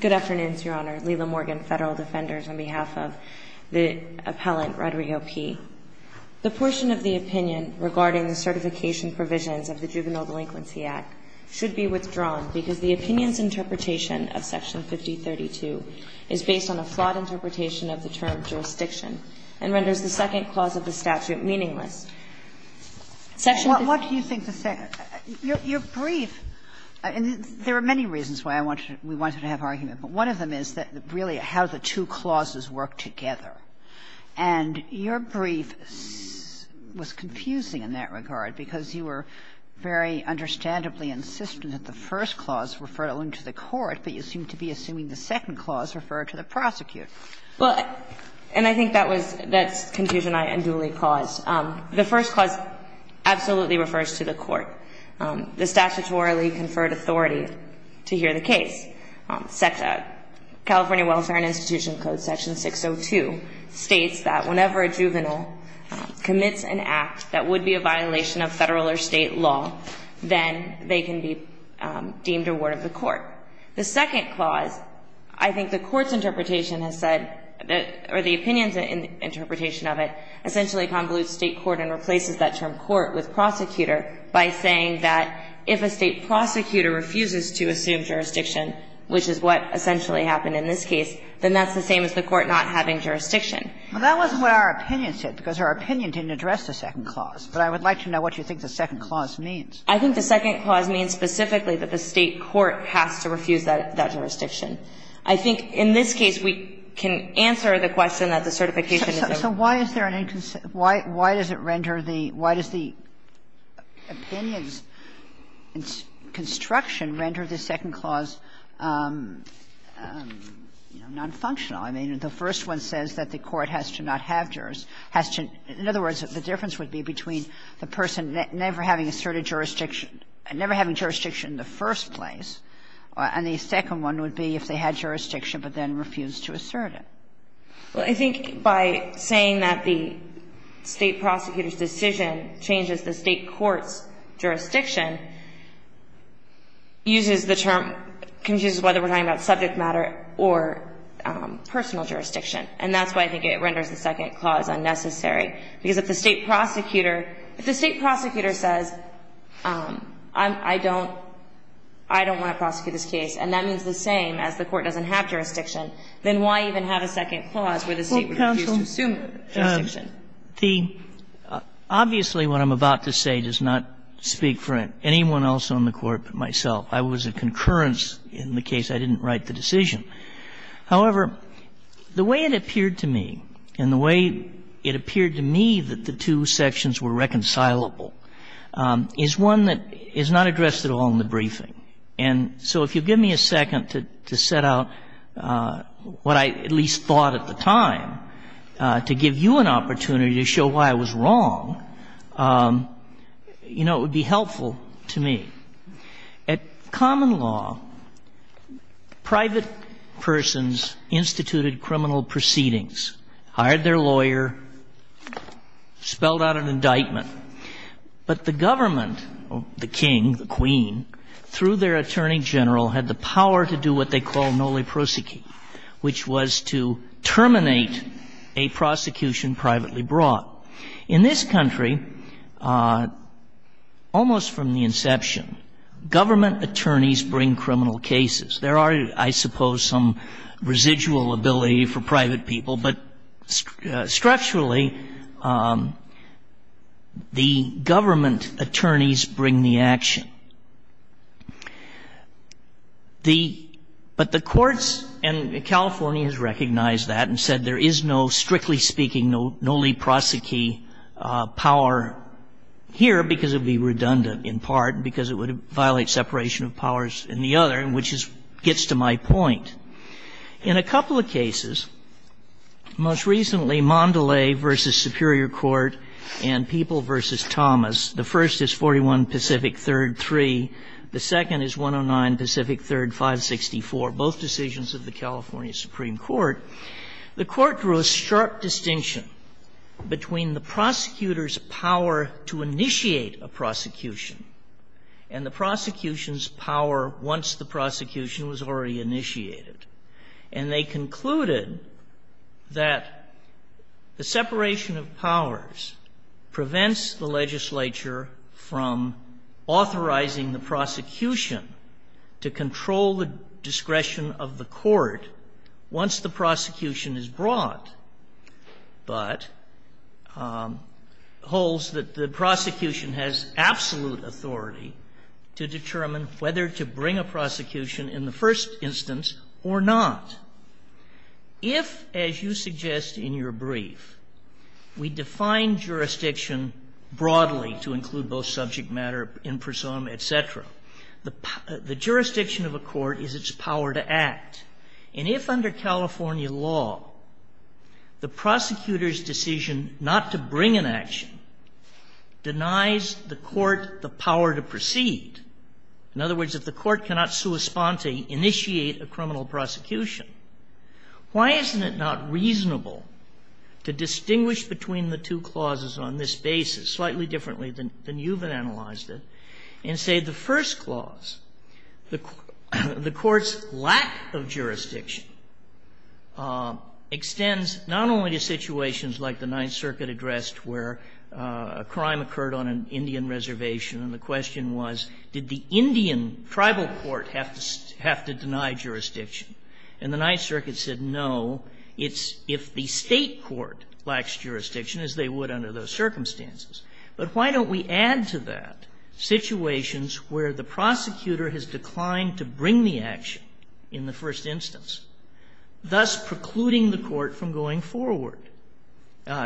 Good afternoon, Your Honor. Lila Morgan, Federal Defenders, on behalf of the appellant, Rodrigo P. The portion of the opinion regarding the certification provisions of the Juvenile Delinquency Act should be withdrawn because the opinion's interpretation of Section 5032 is based on a flawed interpretation of the term jurisdiction and renders the second clause of the statute meaningless. Section 5032 What do you think the second? You're brief. And there are many reasons why I want to we wanted to have argument, but one of them is that really how the two clauses work together. And your brief was confusing in that regard, because you were very understandably insistent that the first clause referred only to the court, but you seem to be assuming the second clause referred to the prosecutor. Well, and I think that was that's confusion I unduly cause. The first clause absolutely refers to the court. The statutorily conferred authority to hear the case, California Welfare and Institution Code Section 602 states that whenever a juvenile commits an act that would be a violation of Federal or State law, then they can be deemed a ward of the court. The second clause, I think the court's interpretation has said, or the opinion's interpretation of it, essentially convolutes State court and replaces that term court with prosecutor by saying that if a State prosecutor refuses to assume jurisdiction, which is what essentially happened in this case, then that's the same as the court not having jurisdiction. But I would like to know what you think the second clause means. I think the second clause means specifically that the State court has to refuse that jurisdiction. I think in this case, we can answer the question that the certification So why is there an inconsistency? Why does it render the – why does the opinion's construction render the second clause nonfunctional? I mean, the first one says that the court has to not have jurisdiction, has to – in other words, the difference would be between the person never having asserted jurisdiction, never having jurisdiction in the first place, and the second one would be if they had jurisdiction but then refused to assert it. Well, I think by saying that the State prosecutor's decision changes the State court's jurisdiction uses the term – confuses whether we're talking about subject matter or personal jurisdiction. And that's why I think it renders the second clause unnecessary, because if the State prosecutor – if the State prosecutor says, I don't want to prosecute this case, and that means the same as the court doesn't have jurisdiction, then why even have a second clause where the State would refuse to assume jurisdiction? The – obviously, what I'm about to say does not speak for anyone else on the Court but myself. I was a concurrence in the case. I didn't write the decision. However, the way it appeared to me, and the way it appeared to me that the two sections were reconcilable, is one that is not addressed at all in the briefing. And so if you'll give me a second to set out what I at least thought at the time to give you an opportunity to show why I was wrong, you know, it would be helpful to me. At common law, private persons instituted criminal proceedings, hired their lawyer, spelled out an indictment. But the government, the king, the queen, through their attorney general, had the power to do what they call noli prosecute, which was to terminate a prosecution privately brought. In this country, almost from the inception, government attorneys bring criminal cases. There are, I suppose, some residual ability for private people, but structurally, the government attorneys bring the action. The — but the courts in California has recognized that and said there is no, strictly speaking, noli prosecute power here because it would be redundant in part and because it would violate separation of powers in the other, which is — gets to my point. In a couple of cases, most recently, Mondelez v. Superior Court and People v. Thomas. The first is 41 Pacific 3rd.3. The second is 109 Pacific 3rd.564, both decisions of the California Supreme Court. The Court drew a sharp distinction between the prosecutor's power to initiate a prosecution and the prosecution's power once the prosecution was already initiated. And they concluded that the separation of powers prevents the legislature from authorizing the prosecution to control the discretion of the court once the has absolute authority to determine whether to bring a prosecution in the first instance or not. If, as you suggest in your brief, we define jurisdiction broadly to include both subject matter, imprisonment, et cetera, the — the jurisdiction of a court is its power to act. And if under California law, the prosecutor's decision not to bring an action denies the court the power to proceed, in other words, if the court cannot sui sponte, initiate a criminal prosecution, why isn't it not reasonable to distinguish between the two clauses on this basis, slightly differently than you've analyzed it, and say the first clause, the court's lack of jurisdiction extends not only to situations like the Ninth Circuit addressed, where a crime occurred on an individual Indian reservation, and the question was, did the Indian tribal court have to deny jurisdiction? And the Ninth Circuit said, no, it's if the State court lacks jurisdiction, as they would under those circumstances. But why don't we add to that situations where the prosecutor has declined to bring the action in the first instance, thus precluding the court from going forward,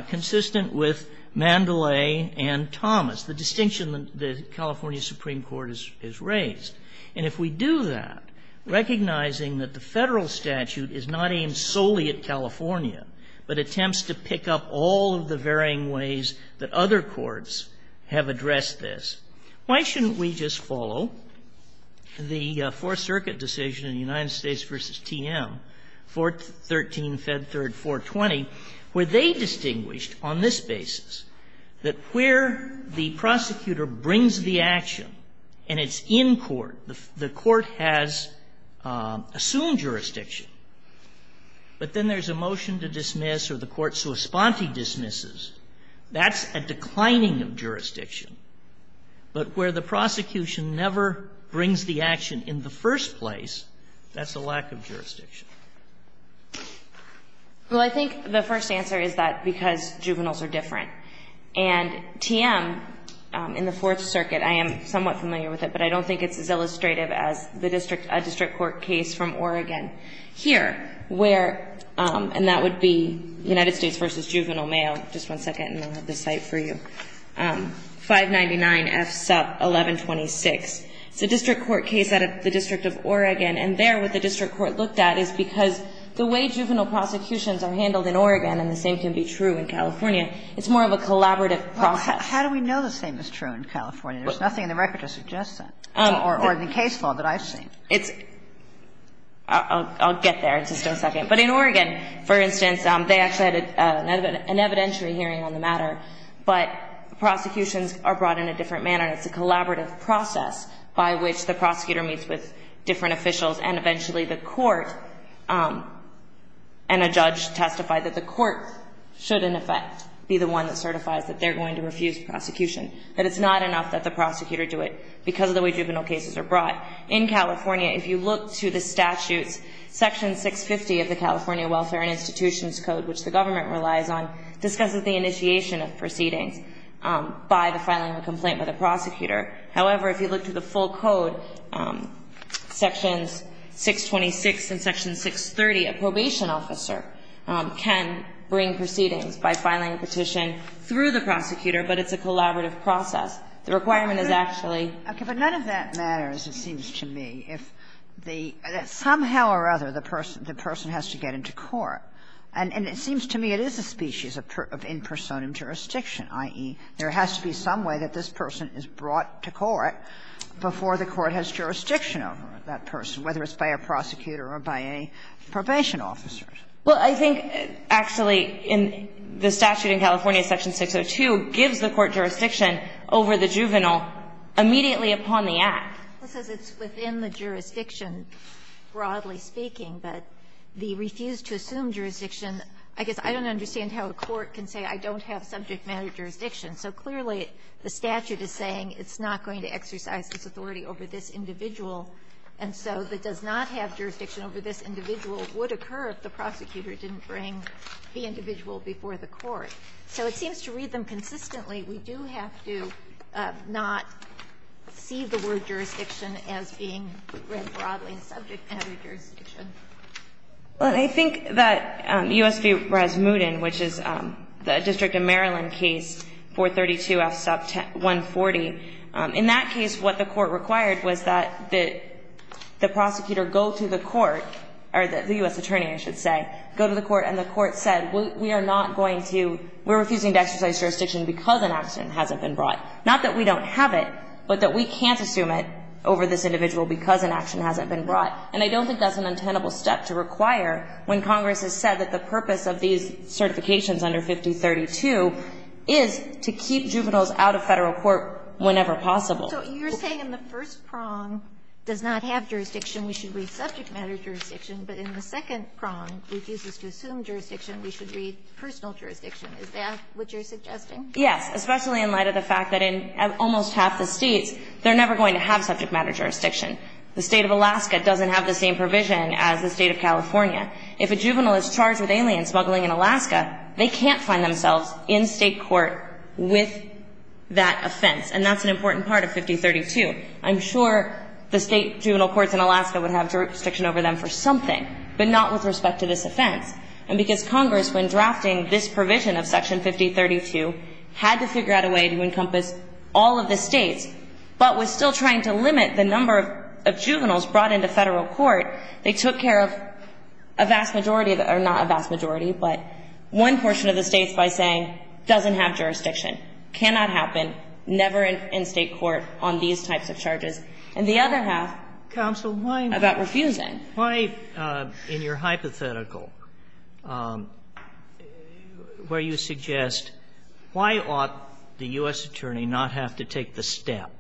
consistent with Mandalay and Thomas, the distinction that the California Supreme Court has raised? And if we do that, recognizing that the Federal statute is not aimed solely at California, but attempts to pick up all of the varying ways that other courts have addressed this, why shouldn't we just follow the Fourth Circuit decision in the United States v. TM, 413, Fed 3rd, 420, where they distinguished on this basis that where the prosecutor brings the action and it's in court, the court has assumed jurisdiction, but then there's a motion to dismiss or the court so esponte dismisses, that's a declining of jurisdiction. But where the prosecution never brings the action in the first place, that's a lack of jurisdiction. Well, I think the first answer is that because juveniles are different. And TM in the Fourth Circuit, I am somewhat familiar with it, but I don't think it's as illustrative as the district court case from Oregon. Here, where, and that would be United States v. Juvenile Mail, just one second and I'll have the site for you, 599 F. Sup. 1126. It's a district court case out of the District of Oregon, and there what the district court looked at is because the way juvenile prosecutions are handled in Oregon, and the same can be true in California, it's more of a collaborative process. Well, how do we know the same is true in California? There's nothing in the record to suggest that, or in the case law that I've seen. It's – I'll get there in just a second. But in Oregon, for instance, they actually had an evidentiary hearing on the matter, but prosecutions are brought in a different manner and it's a collaborative process by which the prosecutor meets with different officials and eventually the court and a judge testify that the court should, in effect, be the one that certifies that they're going to refuse prosecution, that it's not enough that the prosecutor do it because of the way juvenile cases are brought. In California, if you look to the statutes, Section 650 of the California Welfare and Institutions Code, which the government relies on, discusses the initiation of proceedings by the filing of a complaint by the prosecutor. However, if you look to the full code, Sections 626 and Section 630, a probation officer can bring proceedings by filing a petition through the prosecutor, but it's a collaborative process. The requirement is actually – Okay. But none of that matters, it seems to me, if the – somehow or other, the person has to get into court. And it seems to me it is a species of in personam jurisdiction, i.e., there has to be some way that this person is brought to court before the court has jurisdiction over that person, whether it's by a prosecutor or by a probation officer. Well, I think actually in the statute in California, Section 602 gives the court jurisdiction over the juvenile immediately upon the act. It says it's within the jurisdiction, broadly speaking, but the refuse to assume jurisdiction, I guess I don't understand how a court can say I don't have subject matter jurisdiction. So clearly, the statute is saying it's not going to exercise this authority over this individual, and so the does not have jurisdiction over this individual would occur if the prosecutor didn't bring the individual before the court. So it seems to read them consistently. We do have to not see the word jurisdiction as being read broadly in subject matter jurisdiction. Well, I think that U.S. v. Rasmussen, which is the District of Maryland case, 432F sub 140, in that case what the court required was that the prosecutor go to the court or the U.S. attorney, I should say, go to the court and the court said we are not going to we're refusing to exercise jurisdiction because an action hasn't been brought. Not that we don't have it, but that we can't assume it over this individual because an action hasn't been brought. And I don't think that's an untenable step to require when Congress has said that the purpose of these certifications under 5032 is to keep juveniles out of Federal court whenever possible. So you're saying in the first prong does not have jurisdiction, we should read subject matter jurisdiction, but in the second prong refuses to assume jurisdiction, we should read personal jurisdiction. Is that what you're suggesting? Yes, especially in light of the fact that in almost half the states, they're never going to have subject matter jurisdiction. The State of Alaska doesn't have the same provision as the State of California. If a juvenile is charged with alien smuggling in Alaska, they can't find themselves in State court with that offense. And that's an important part of 5032. I'm sure the State juvenile courts in Alaska would have jurisdiction over them for something, but not with respect to this offense. And because Congress, when drafting this provision of Section 5032, had to figure out a way to encompass all of the states, but was still trying to limit the number of juveniles brought into Federal court, they took care of a vast majority of the or not a vast majority, but one portion of the states by saying doesn't have jurisdiction, cannot happen, never in State court on these types of charges, and the other half about refusing. Why, in your hypothetical, where you suggest why ought the U.S. attorney not have to take the step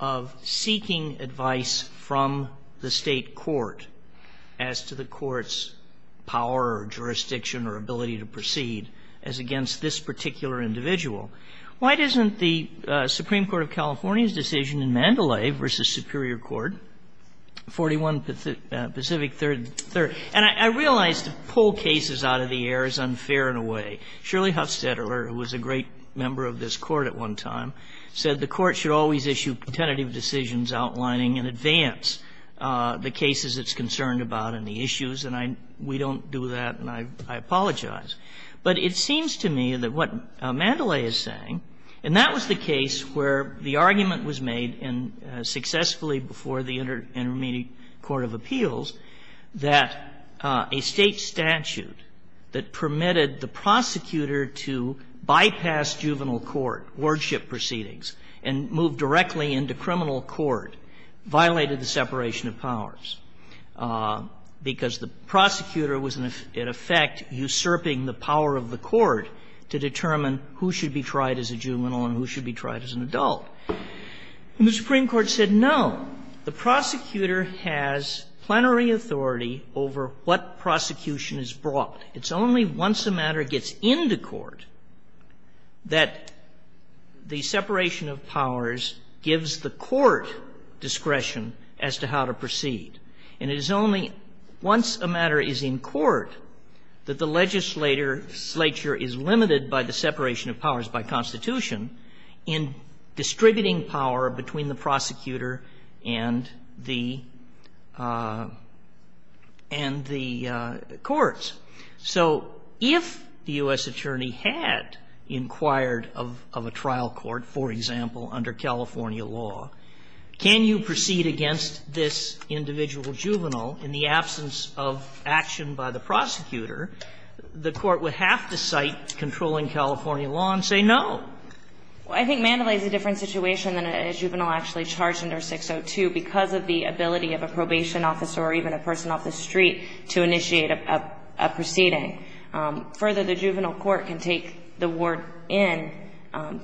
of seeking advice from the State court as to the court's power or jurisdiction or ability to proceed as against this particular individual? Why doesn't the Supreme Court of California's decision in Mandalay v. Superior Court, 41 Pacific 3rd, and I realize to pull cases out of the air is unfair in a way. Shirley Hufstetler, who was a great member of this Court at one time, said the Court should always issue tentative decisions outlining in advance the cases it's concerned about and the issues, and we don't do that, and I apologize. But it seems to me that what Mandalay is saying, and that was the case where the argument was made successfully before the Intermediate Court of Appeals, that a State statute that permitted the prosecutor to bypass juvenile court, wardship proceedings, and move directly into criminal court, violated the separation of powers, because the prosecutor was, in effect, usurping the power of the court to determine who should be tried as a juvenile and who should be tried as an adult. And the Supreme Court said, no, the prosecutor has plenary authority over what prosecution is brought. It's only once a matter gets into court that the separation of powers gives the court discretion as to how to proceed. And it is only once a matter is in court that the legislature is limited by the separation of powers by Constitution in distributing power between the prosecutor and the courts. So if the U.S. attorney had inquired of a trial court, for example, under California law, can you proceed against this individual juvenile in the absence of action by the juvenile court? Can you go on and say no? I think Mandalay is a different situation than a juvenile actually charged under 602 because of the ability of a probation officer or even a person off the street to initiate a proceeding. Further, the juvenile court can take the ward in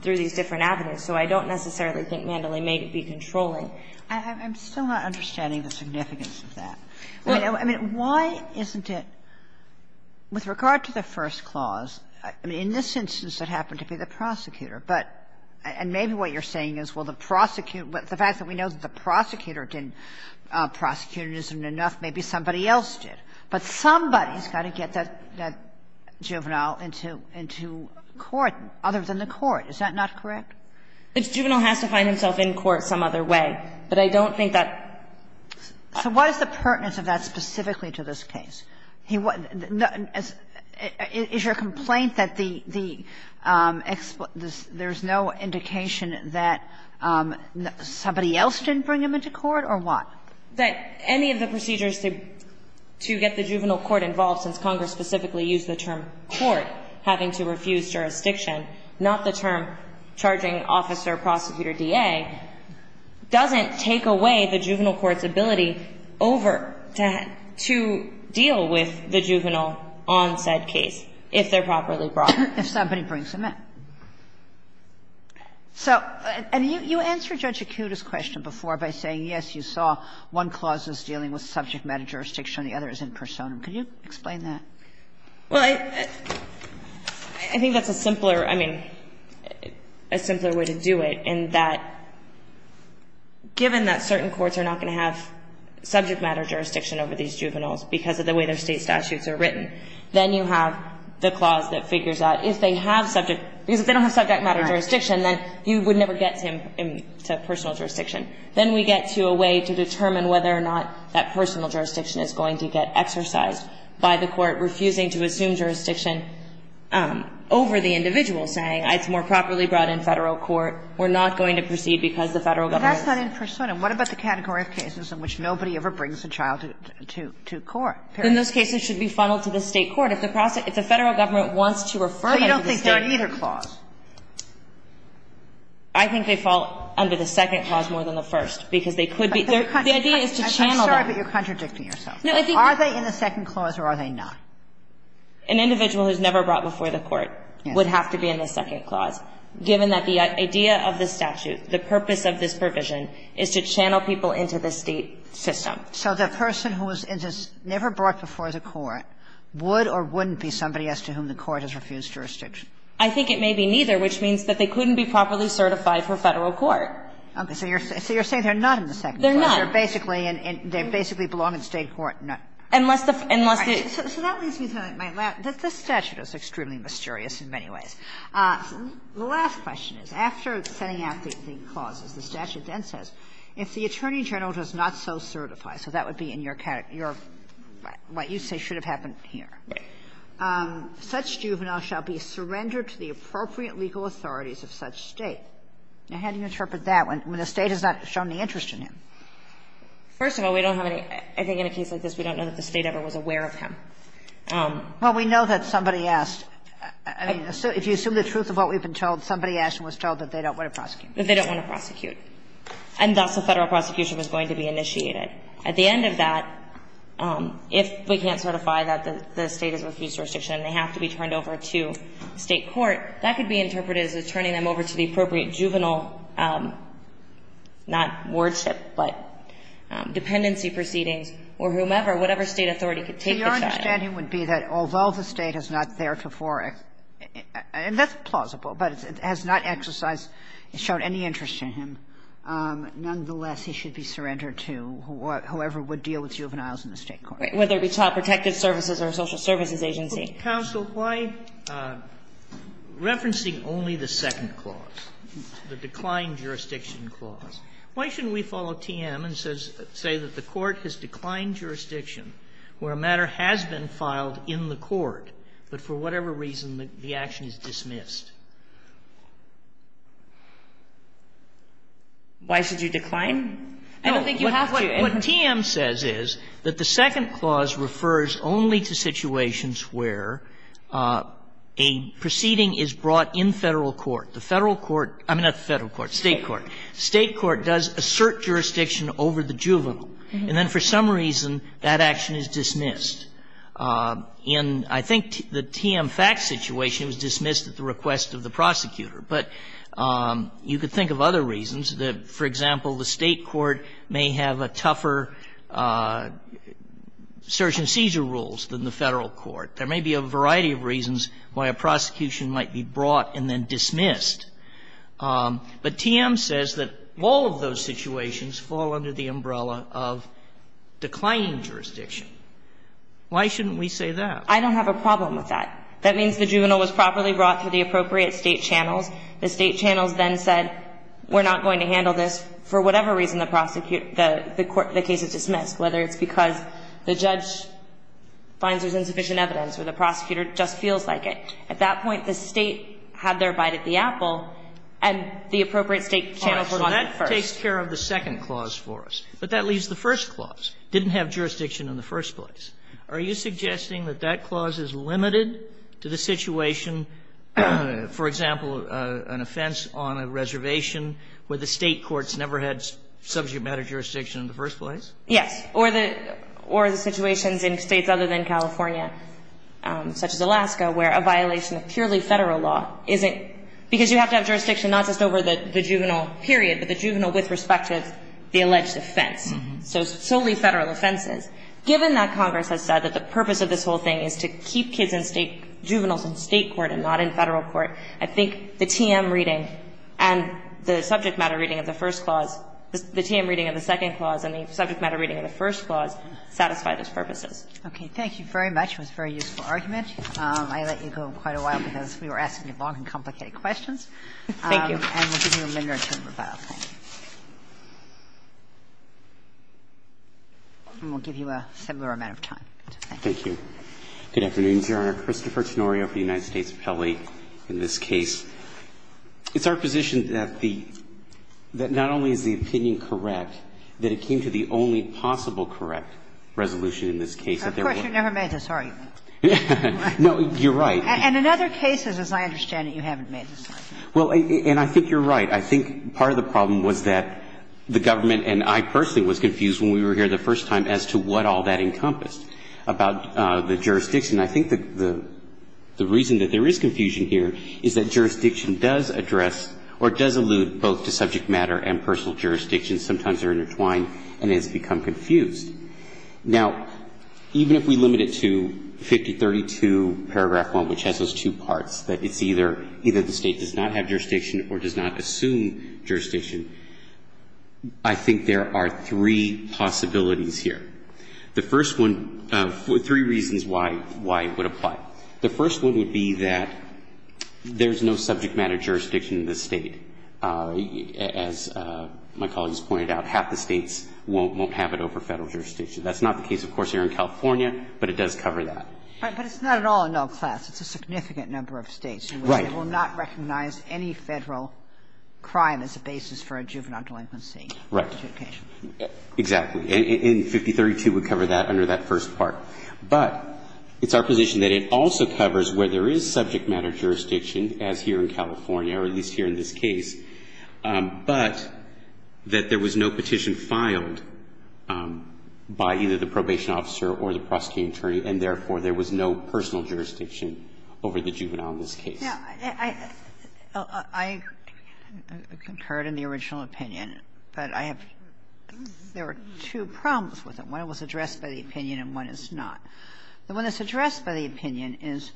through these different avenues, so I don't necessarily think Mandalay may be controlling. I'm still not understanding the significance of that. I mean, why isn't it, with regard to the first clause, in this instance it has to do with the fact that he happened to be the prosecutor, but and maybe what you're saying is, well, the prosecutor, the fact that we know the prosecutor didn't prosecute isn't enough, maybe somebody else did, but somebody's got to get that juvenile into court, other than the court. Is that not correct? It's juvenile has to find himself in court some other way, but I don't think that So what is the pertinence of that specifically to this case? Is your complaint that there's no indication that somebody else didn't bring him into court, or what? That any of the procedures to get the juvenile court involved, since Congress specifically used the term court, having to refuse jurisdiction, not the term charging officer, prosecutor, DA, doesn't take away the juvenile court's ability over to deal with the juvenile on said case, if they're properly brought in. If somebody brings him in. So you answered Judge Akuta's question before by saying, yes, you saw one clause is dealing with subject matter jurisdiction and the other is in personam. Can you explain that? Well, I think that's a simpler, I mean, a simpler way to do it in that, given that certain courts are not going to have subject matter jurisdiction over these juveniles because of the way their state statutes are written, then you have the clause that figures out if they have subject, because if they don't have subject matter jurisdiction, then you would never get him to personal jurisdiction. Then we get to a way to determine whether or not that personal jurisdiction is going to get exercised by the court refusing to assume jurisdiction over the individual, saying it's more properly brought in Federal court, we're not going to proceed because the Federal government is. But that's not in personam. And what about the category of cases in which nobody ever brings a child to court? Then those cases should be funneled to the State court. If the Federal government wants to refer them to the State court. But you don't think they're in either clause? I think they fall under the second clause more than the first, because they could be. The idea is to channel them. I'm sorry, but you're contradicting yourself. No, I think that's. Are they in the second clause or are they not? An individual who's never brought before the court would have to be in the second clause, given that the idea of the statute, the purpose of this provision is to channel people into the State system. So the person who was never brought before the court would or wouldn't be somebody as to whom the court has refused jurisdiction? I think it may be neither, which means that they couldn't be properly certified for Federal court. Okay. So you're saying they're not in the second clause. They're not. They're basically in the State court. Unless the Federal government is in the State court. So that leads me to my last point. This statute is extremely mysterious in many ways. The last question is, after setting out the clauses, the statute then says, if the Attorney General does not so certify, so that would be in your category, what you say should have happened here, such juvenile shall be surrendered to the appropriate legal authorities of such State. Now, how do you interpret that when the State has not shown any interest in him? First of all, we don't have any – I think in a case like this, we don't know that the State ever was aware of him. Well, we know that somebody asked. I mean, if you assume the truth of what we've been told, somebody asked and was told that they don't want to prosecute. That they don't want to prosecute. And thus, a Federal prosecution was going to be initiated. At the end of that, if we can't certify that the State has refused to restriction and they have to be turned over to State court, that could be interpreted as turning them over to the appropriate juvenile, not wardship, but dependency proceedings, or whomever, whatever State authority could take the child. So your understanding would be that although the State has not theretofore – and that's plausible, but it has not exercised, shown any interest in him. Nonetheless, he should be surrendered to whoever would deal with juveniles in the State court. Whether it be Child Protective Services or Social Services Agency. Counsel, why – referencing only the second clause, the declined jurisdiction clause, why shouldn't we follow TM and say that the court has declined jurisdiction where a matter has been filed in the court, but for whatever reason the action is dismissed? Why should you decline? I don't think you have to. What TM says is that the second clause refers only to situations where a proceeding is brought in Federal court. The Federal court – I mean, not the Federal court, State court. State court does assert jurisdiction over the juvenile. And then for some reason, that action is dismissed. In, I think, the TM facts situation, it was dismissed at the request of the prosecutor. But you could think of other reasons that, for example, the State court may have a tougher search and seizure rules than the Federal court. There may be a variety of reasons why a prosecution might be brought and then dismissed. But TM says that all of those situations fall under the umbrella of declining jurisdiction. Why shouldn't we say that? I don't have a problem with that. That means the juvenile was properly brought through the appropriate State channels. The State channels then said, we're not going to handle this for whatever reason the prosecutor – the court – the case is dismissed, whether it's because the judge finds there's insufficient evidence or the prosecutor just feels like it. At that point, the State had their bite at the apple, and the appropriate State channels were the first. So that takes care of the second clause for us, but that leaves the first clause. The first clause is that the juvenile with respect to the alleged offense didn't have jurisdiction in the first place. Are you suggesting that that clause is limited to the situation, for example, an offense on a reservation where the State courts never had subject matter jurisdiction in the first place? Yes. Or the situations in States other than California, such as Alaska, where a violation of purely Federal law isn't – because you have to have jurisdiction not just over the juvenile period, but the juvenile with respect to the alleged offense, so solely Federal offenses. Given that Congress has said that the purpose of this whole thing is to keep kids in State – juveniles in State court and not in Federal court, I think the TM reading and the subject matter reading of the first clause – the TM reading of the second clause and the subject matter reading of the first clause satisfy those purposes. Okay. Thank you very much. It was a very useful argument. I let you go quite a while because we were asking long and complicated questions. Thank you. And we'll give you a minute or two for that, okay? And we'll give you a similar amount of time. Thank you. Good afternoon, Your Honor. Christopher Tonorio for the United States Appellate. In this case, it's our position that the – that not only is the opinion correct, that it came to the only possible correct resolution in this case. Of course, you've never made this argument. No, you're right. And in other cases, as I understand it, you haven't made this argument. Well, and I think you're right. I think part of the problem was that the government and I personally was confused when we were here the first time as to what all that encompassed about the jurisdiction. I think the reason that there is confusion here is that jurisdiction does address or does allude both to subject matter and personal jurisdiction. Sometimes they're intertwined and it has become confused. Now, even if we limit it to 5032 paragraph 1, which has those two parts, that it's either the state does not have jurisdiction or does not assume jurisdiction, I think there are three possibilities here. The first one – three reasons why it would apply. The first one would be that there's no subject matter jurisdiction in this state, as my colleagues pointed out, half the states won't have it over Federal jurisdiction. That's not the case, of course, here in California, but it does cover that. But it's not at all in all classes. It's a significant number of states. Right. They will not recognize any Federal crime as a basis for a juvenile delinquency. Right. Exactly. And 5032 would cover that under that first part. But it's our position that it also covers where there is subject matter jurisdiction, as here in California, or at least here in this case, but that there was no petition filed by either the probation officer or the prosecuting attorney, and therefore there was no personal jurisdiction over the juvenile in this case. Now, I concurred in the original opinion, but I have – there were two problems with it. One was addressed by the opinion and one is not. The one that's addressed by the opinion is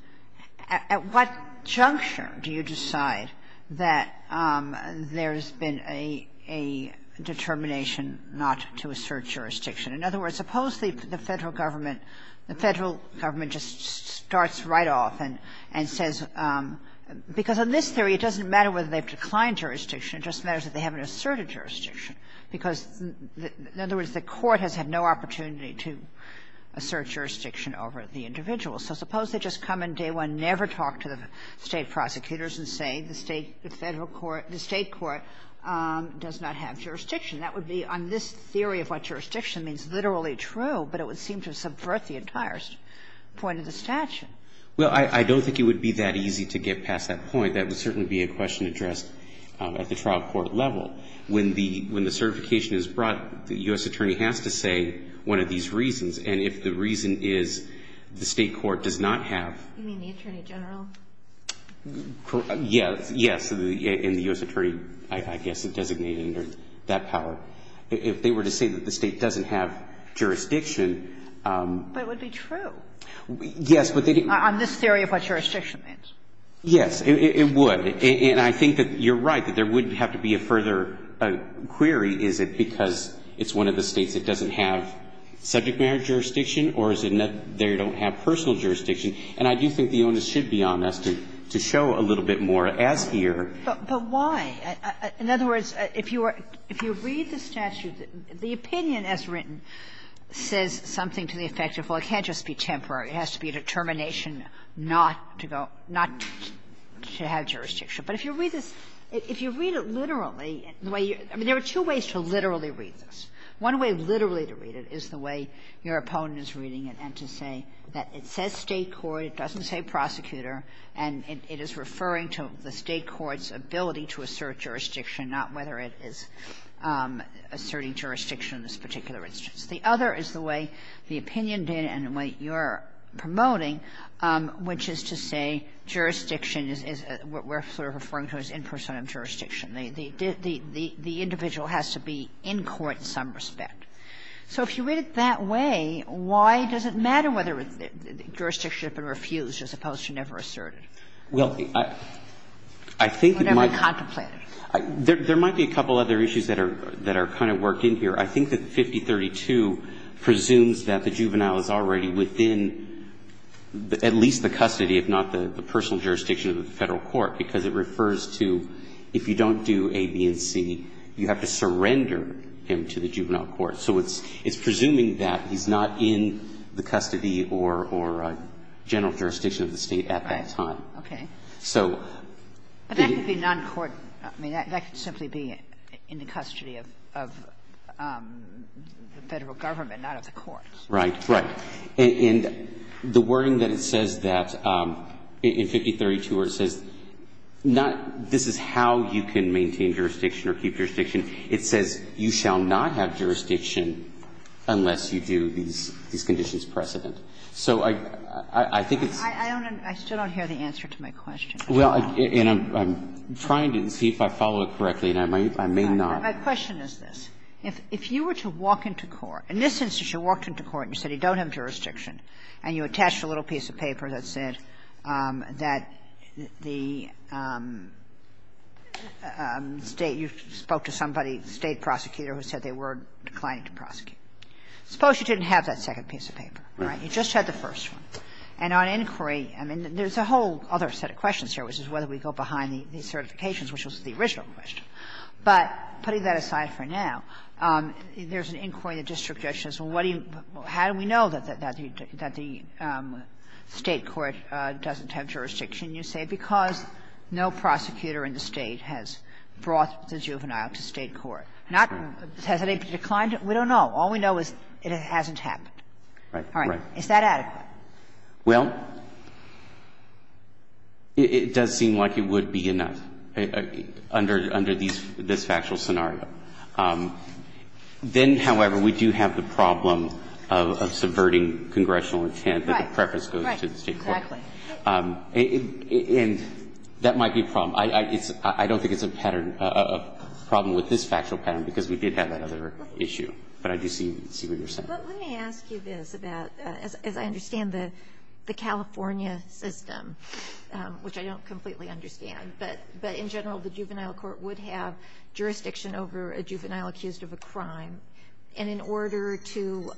at what juncture do you decide that there's been a determination not to assert jurisdiction? In other words, suppose the Federal Government – the Federal Government just starts right off and says – because in this theory, it doesn't matter whether they've declined jurisdiction, it just matters that they haven't asserted jurisdiction, because – in other words, the court has had no opportunity to assert jurisdiction over the individual. So suppose they just come in day one, never talk to the State prosecutors and say the State – the Federal court – the State court does not have jurisdiction. That would be, on this theory of what jurisdiction means, literally true, but it would seem to subvert the entire point of the statute. Well, I don't think it would be that easy to get past that point. That would certainly be a question addressed at the trial court level. When the – when the certification is brought, the U.S. attorney has to say one of these reasons, and if the reason is the State court does not have – You mean the attorney general? Yes. Yes. And the U.S. attorney, I guess, is designated under that power. If they were to say that the State doesn't have jurisdiction – But it would be true. Yes, but they – On this theory of what jurisdiction means. Yes, it would. And I think that you're right, that there would have to be a further query, is it because it's one of the States that doesn't have subject matter jurisdiction or is it that they don't have personal jurisdiction. And I do think the onus should be on us to show a little bit more as here. But why? In other words, if you are – if you read the statute, the opinion as written says something to the effect of, well, it can't just be temporary, it has to be a determination not to go – not to have jurisdiction. But if you read this – if you read it literally, the way you – I mean, there are two ways to literally read this. One way literally to read it is the way your opponent is reading it and to say that it says State court, it doesn't say prosecutor, and it is referring to the State court's ability to assert jurisdiction, not whether it is asserting jurisdiction in this particular instance. The other is the way the opinion data and the way you're promoting, which is to say jurisdiction is – we're sort of referring to it as in person jurisdiction. The individual has to be in court in some respect. So if you read it that way, why does it matter whether jurisdiction has been refused as opposed to never asserted? Well, I think it might be a couple other issues that are kind of worked in here. I think that 5032 presumes that the juvenile is already within at least the custody, if not the personal jurisdiction of the Federal court, because it refers to if you don't do A, B, and C, you have to surrender him to the juvenile court. So it's presuming that he's not in the custody or general jurisdiction of the State at that time. So the – The Federal government, not at the courts. Right. Right. And the wording that it says that in 5032 where it says not – this is how you can maintain jurisdiction or keep jurisdiction. It says you shall not have jurisdiction unless you do these conditions precedent. So I think it's – I don't – I still don't hear the answer to my question. Well, and I'm trying to see if I follow it correctly, and I may not. My question is this. If you were to walk into court – in this instance, you walked into court and you said you don't have jurisdiction, and you attached a little piece of paper that said that the State – you spoke to somebody, State prosecutor, who said they were declining to prosecute. Suppose you didn't have that second piece of paper, right? You just had the first one. And on inquiry, I mean, there's a whole other set of questions here, which is whether we go behind the certifications, which was the original question. But putting that aside for now, there's an inquiry that just suggests, well, what do you – how do we know that the State court doesn't have jurisdiction, you say, because no prosecutor in the State has brought the juvenile to State court. Has it ever declined? We don't know. All we know is it hasn't happened. All right. Is that adequate? Well, it does seem like it would be enough. I mean, I think it would be enough under this factual scenario. Then, however, we do have the problem of subverting congressional intent that the preference goes to the State court. Right. Right. Exactly. And that might be a problem. I don't think it's a pattern – a problem with this factual pattern, because we did have that other issue. But I do see what you're saying. But let me ask you this about – as I understand the California system, which I don't completely understand, but in general, the juvenile court would have jurisdiction over a juvenile accused of a crime, and in order to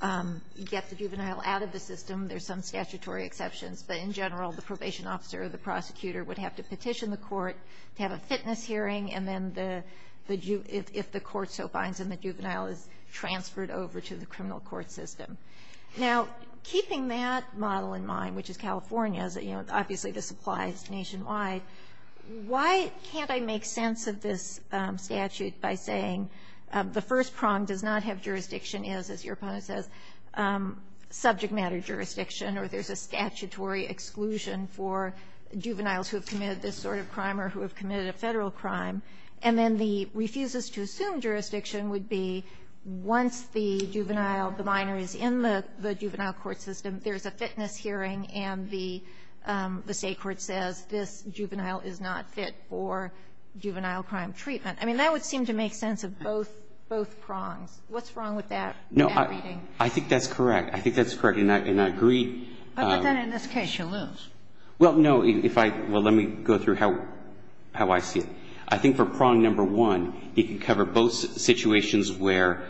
get the juvenile out of the system, there's some statutory exceptions. But in general, the probation officer or the prosecutor would have to petition the court to have a fitness hearing, and then the – if the court so finds him, the juvenile is transferred over to the criminal court system. Now, keeping that model in mind, which is California's, you know, obviously the supplies nationwide, why can't I make sense of this statute by saying the first prong does not have jurisdiction is, as your opponent says, subject matter jurisdiction, or there's a statutory exclusion for juveniles who have committed this sort of crime or who have committed a Federal crime, and then the refuses-to-assume jurisdiction would be once the juvenile, the minor, is in the juvenile court system, there's a fitness hearing, and the State court says this juvenile is not fit for juvenile crime treatment. I mean, that would seem to make sense of both prongs. What's wrong with that reading? No, I think that's correct. I think that's correct, and I agree. But then in this case, you lose. Well, no. If I – well, let me go through how I see it. I think for prong number one, it can cover both situations where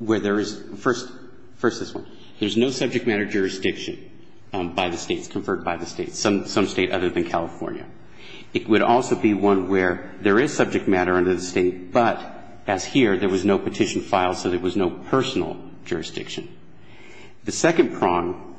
there is – first this one. There's no subject matter jurisdiction by the States, conferred by the States, some State other than California. It would also be one where there is subject matter under the State, but as here, there was no petition filed, so there was no personal jurisdiction. The second prong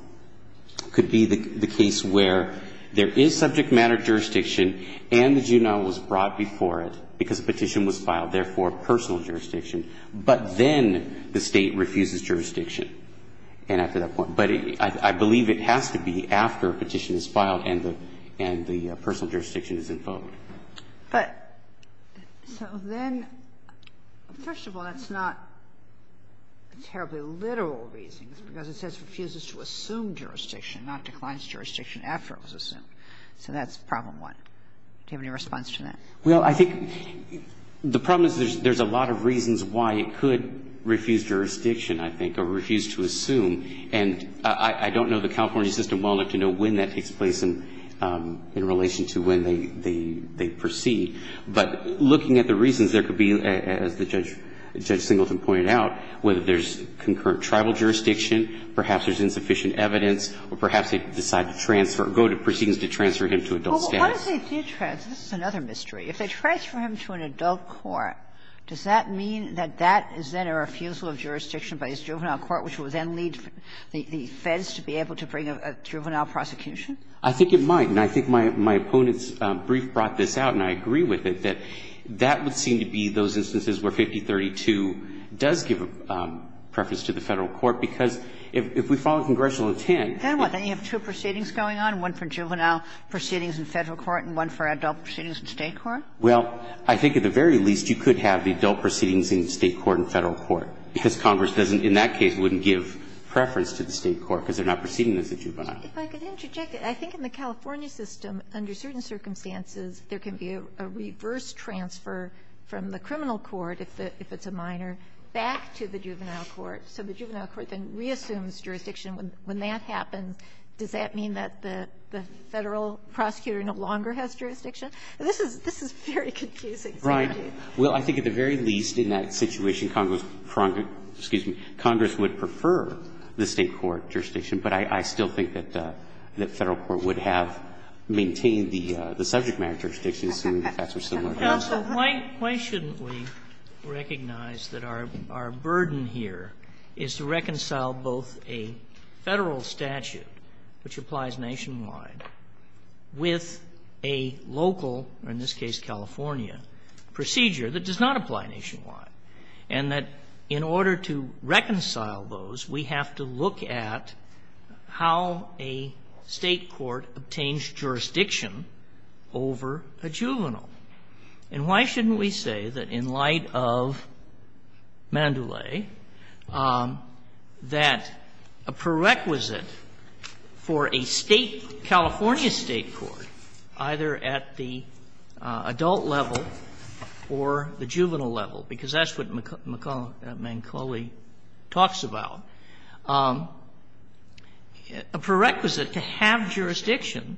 could be the case where there is subject matter jurisdiction and the juvenile was brought before it because a petition was filed, therefore personal jurisdiction, but then the State refuses jurisdiction. And after that point – but I believe it has to be after a petition is filed and the personal jurisdiction is invoked. But so then, first of all, that's not a terribly literal reason, because it says refuses to assume jurisdiction, not declines jurisdiction after it was assumed. So that's problem one. Do you have any response to that? Well, I think the problem is there's a lot of reasons why it could refuse jurisdiction, I think, or refuse to assume. And I don't know the California system well enough to know when that takes place in relation to when they proceed. But looking at the reasons, there could be, as Judge Singleton pointed out, whether there's concurrent tribal jurisdiction, perhaps there's insufficient evidence, or perhaps they decide to transfer – go to proceedings to transfer him to adult status. Well, what if they do transfer – this is another mystery – if they transfer him to an adult court, does that mean that that is then a refusal of jurisdiction by his juvenile court, which will then lead the Feds to be able to bring a juvenile prosecution? I think it might. And I think my opponent's brief brought this out, and I agree with it, that that would seem to be those instances where 5032 does give preference to the Federal court, because if we follow congressional intent – Then what? Then you have two proceedings going on, one for juvenile proceedings in Federal court and one for adult proceedings in State court? Well, I think at the very least, you could have the adult proceedings in State court and Federal court, because Congress doesn't – in that case, wouldn't give preference to the State court, because they're not proceeding as a juvenile. If I could interject, I think in the California system, under certain circumstances, there can be a reverse transfer from the criminal court, if it's a minor, back to the juvenile court, so the juvenile court then reassumes jurisdiction. When that happens, does that mean that the Federal prosecutor no longer has jurisdiction? This is very confusing. Brian, well, I think at the very least in that situation, Congress would prefer the State court jurisdiction, but I still think that Federal court would have maintained the subject matter jurisdiction, assuming the facts are similar. Counsel, why shouldn't we recognize that our burden here is to reconcile both a Federal statute, which applies nationwide, with a local, or in this case, California, procedure that does not apply nationwide, and that in order to reconcile those, we have to look at how a State court obtains jurisdiction over a juvenile? And why shouldn't we say that in light of Mandoulay, that a prerequisite for a State, California State court, either at the adult level or the juvenile level, because that's what McCulloch, Manculli talks about, a prerequisite to have jurisdiction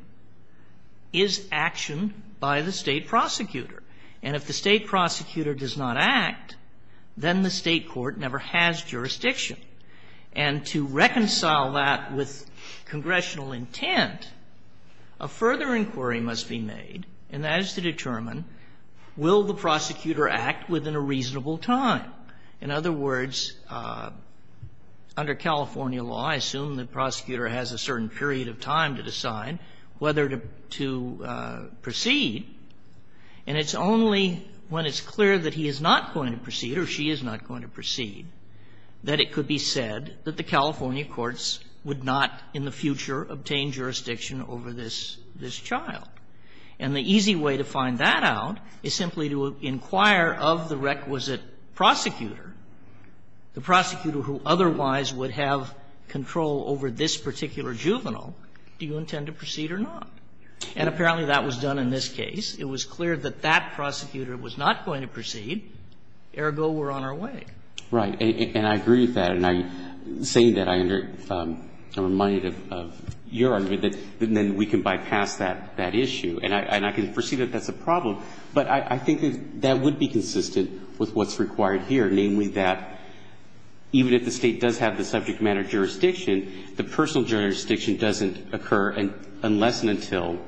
is action by the State prosecutor. And if the State prosecutor does not act, then the State court never has jurisdiction. And to reconcile that with congressional intent, a further inquiry must be made, and that is to determine, will the prosecutor act within a reasonable time? In other words, under California law, I assume the prosecutor has a certain period of time to decide whether to proceed, and it's only when it's clear that he is not going to proceed, or she is not going to proceed, that it could be said that the California courts would not in the future obtain jurisdiction over this child. And the easy way to find that out is simply to inquire of the requisite prosecutor, the prosecutor who otherwise would have control over this particular juvenile, do you intend to proceed or not? And apparently that was done in this case. It was clear that that prosecutor was not going to proceed, ergo we're on our way. Right. And I agree with that. And I'm saying that, I'm reminded of your argument, that then we can bypass that issue. And I can foresee that that's a problem, but I think that that would be consistent with what's required here, namely that even if the State does have the subject matter jurisdiction, the personal jurisdiction doesn't occur unless and until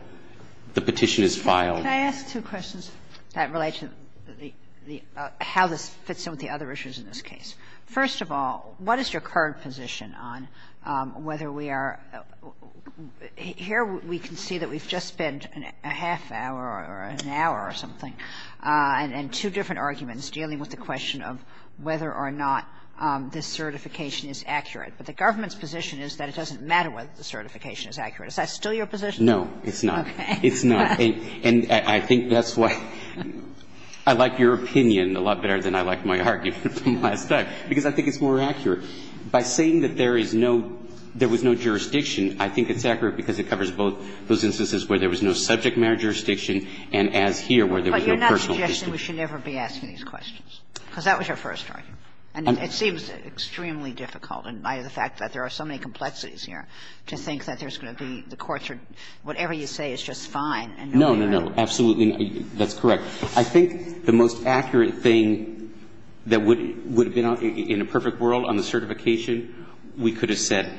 the petition is filed. Kagan. Kagan. Can I ask two questions that relate to the how this fits in with the other issues in this case? First of all, what is your current position on whether we are here we can see that we've just spent a half hour or an hour or something, and two different arguments dealing with the question of whether or not this certification is accurate. But the government's position is that it doesn't matter whether the certification is accurate. Is that still your position? No, it's not. Okay. It's not. And I think that's why I like your opinion a lot better than I like my argument from last time, because I think it's more accurate. By saying that there is no – there was no jurisdiction, I think it's accurate because it covers both those instances where there was no subject matter jurisdiction and as here where there was no personal jurisdiction. But you're not suggesting we should never be asking these questions, because that was your first argument. And it seems extremely difficult, in light of the fact that there are so many complexities here, to think that there's going to be the courts or whatever you say is just fine No, no, no. Absolutely. That's correct. I think the most accurate thing that would have been in a perfect world on the certification, we could have said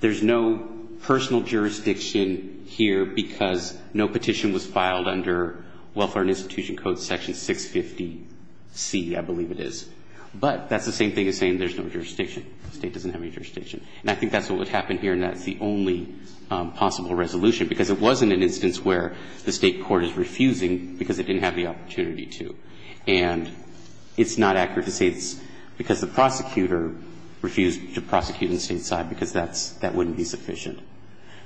there's no personal jurisdiction here because no petition was filed under Welfare and Institution Code section 650C, I believe it is. But that's the same thing as saying there's no jurisdiction. The State doesn't have any jurisdiction. And I think that's what would happen here, and that's the only possible resolution, because it wasn't an instance where the State court is refusing because it didn't have the opportunity to. And it's not accurate to say it's because the prosecutor refused to prosecute on the State side, because that's – that wouldn't be sufficient.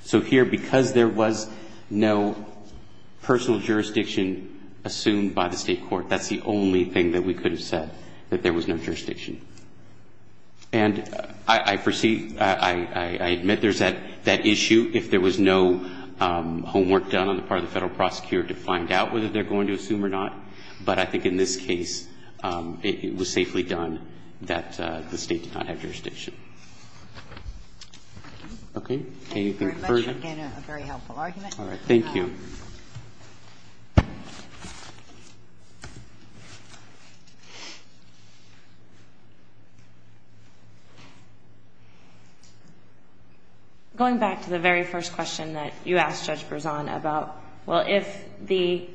So here, because there was no personal jurisdiction assumed by the State court, that's the only thing that we could have said, that there was no jurisdiction. And I perceive – I admit there's that issue if there was no homework done on the part of the Federal prosecutor to find out whether they're going to assume or not. But I think in this case, it was safely done that the State did not have jurisdiction. Anything further? Thank you very much. Again, a very helpful argument. All right. Thank you. Going back to the very first question that you asked Judge Berzon about, well, if the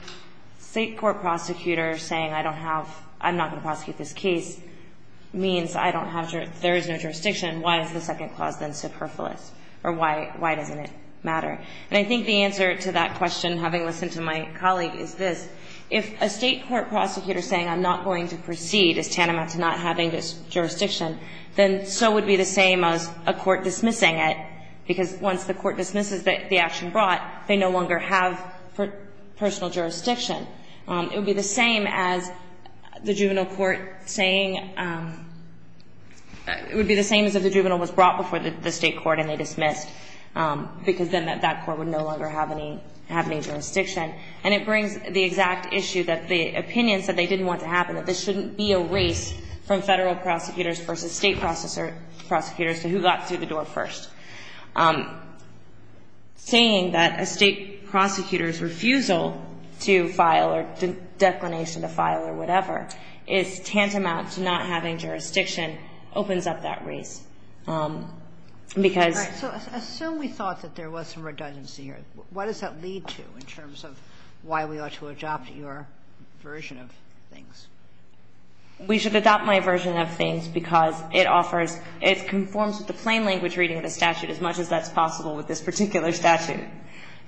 State court prosecutor saying I don't have – I'm not going to prosecute this case means I don't have – there is no jurisdiction, why is the second clause then superfluous? Or why doesn't it matter? And I think the answer to that question, having listened to my colleague, is this. If a State court prosecutor saying I'm not going to proceed is tantamount to not having this jurisdiction, then so would be the same as a court dismissing it, because once the court dismisses the action brought, they no longer have personal jurisdiction. It would be the same as the juvenile court saying – it would be the same as if the court would no longer have any jurisdiction. And it brings the exact issue that the opinion said they didn't want to happen, that this shouldn't be a race from Federal prosecutors versus State prosecutors to who got through the door first. Saying that a State prosecutor's refusal to file or declination to file or whatever is tantamount to not having jurisdiction opens up that race, because – What does that lead to in terms of why we ought to adopt your version of things? We should adopt my version of things because it offers – it conforms with the plain language reading of the statute as much as that's possible with this particular statute.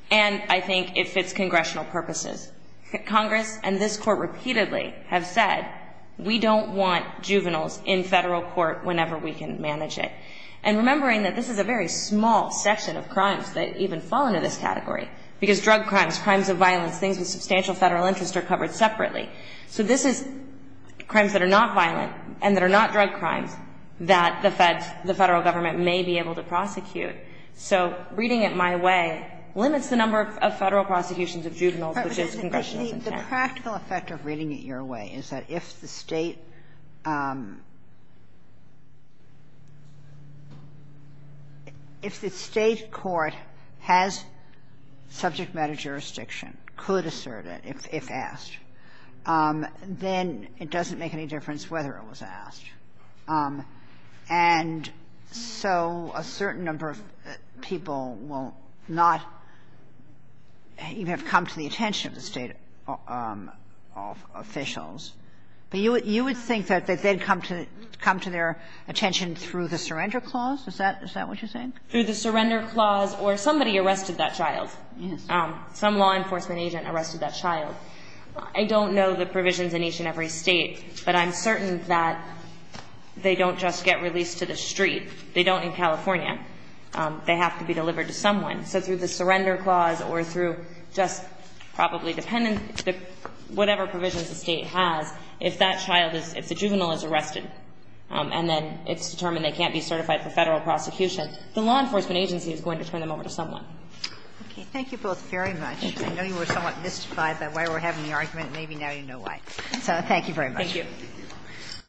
And I think it fits congressional purposes. Congress and this Court repeatedly have said we don't want juveniles in Federal court whenever we can manage it. And remembering that this is a very small section of crimes that even fall into this category, because drug crimes, crimes of violence, things with substantial Federal interest are covered separately. So this is crimes that are not violent and that are not drug crimes that the Federal Government may be able to prosecute. So reading it my way limits the number of Federal prosecutions of juveniles, which is congressional in effect. The practical effect of reading it your way is that if the State – if the State court has subject matter jurisdiction, could assert it if asked, then it doesn't make any difference whether it was asked. And so a certain number of people will not even have come to the attention of the State officials. But you would think that they'd come to their attention through the surrender clause? Is that what you're saying? Through the surrender clause or somebody arrested that child. Yes. Some law enforcement agent arrested that child. I don't know the provisions in each and every State, but I'm certain that they don't just get released to the street. They don't in California. They have to be delivered to someone. So through the surrender clause or through just probably dependent – whatever provisions the State has, if that child is – if the juvenile is arrested and then it's determined they can't be certified for Federal prosecution, the law enforcement agency is going to turn them over to someone. Okay. Thank you both very much. I know you were somewhat mystified by why we're having the argument. Maybe now you know why. So thank you very much. Thank you.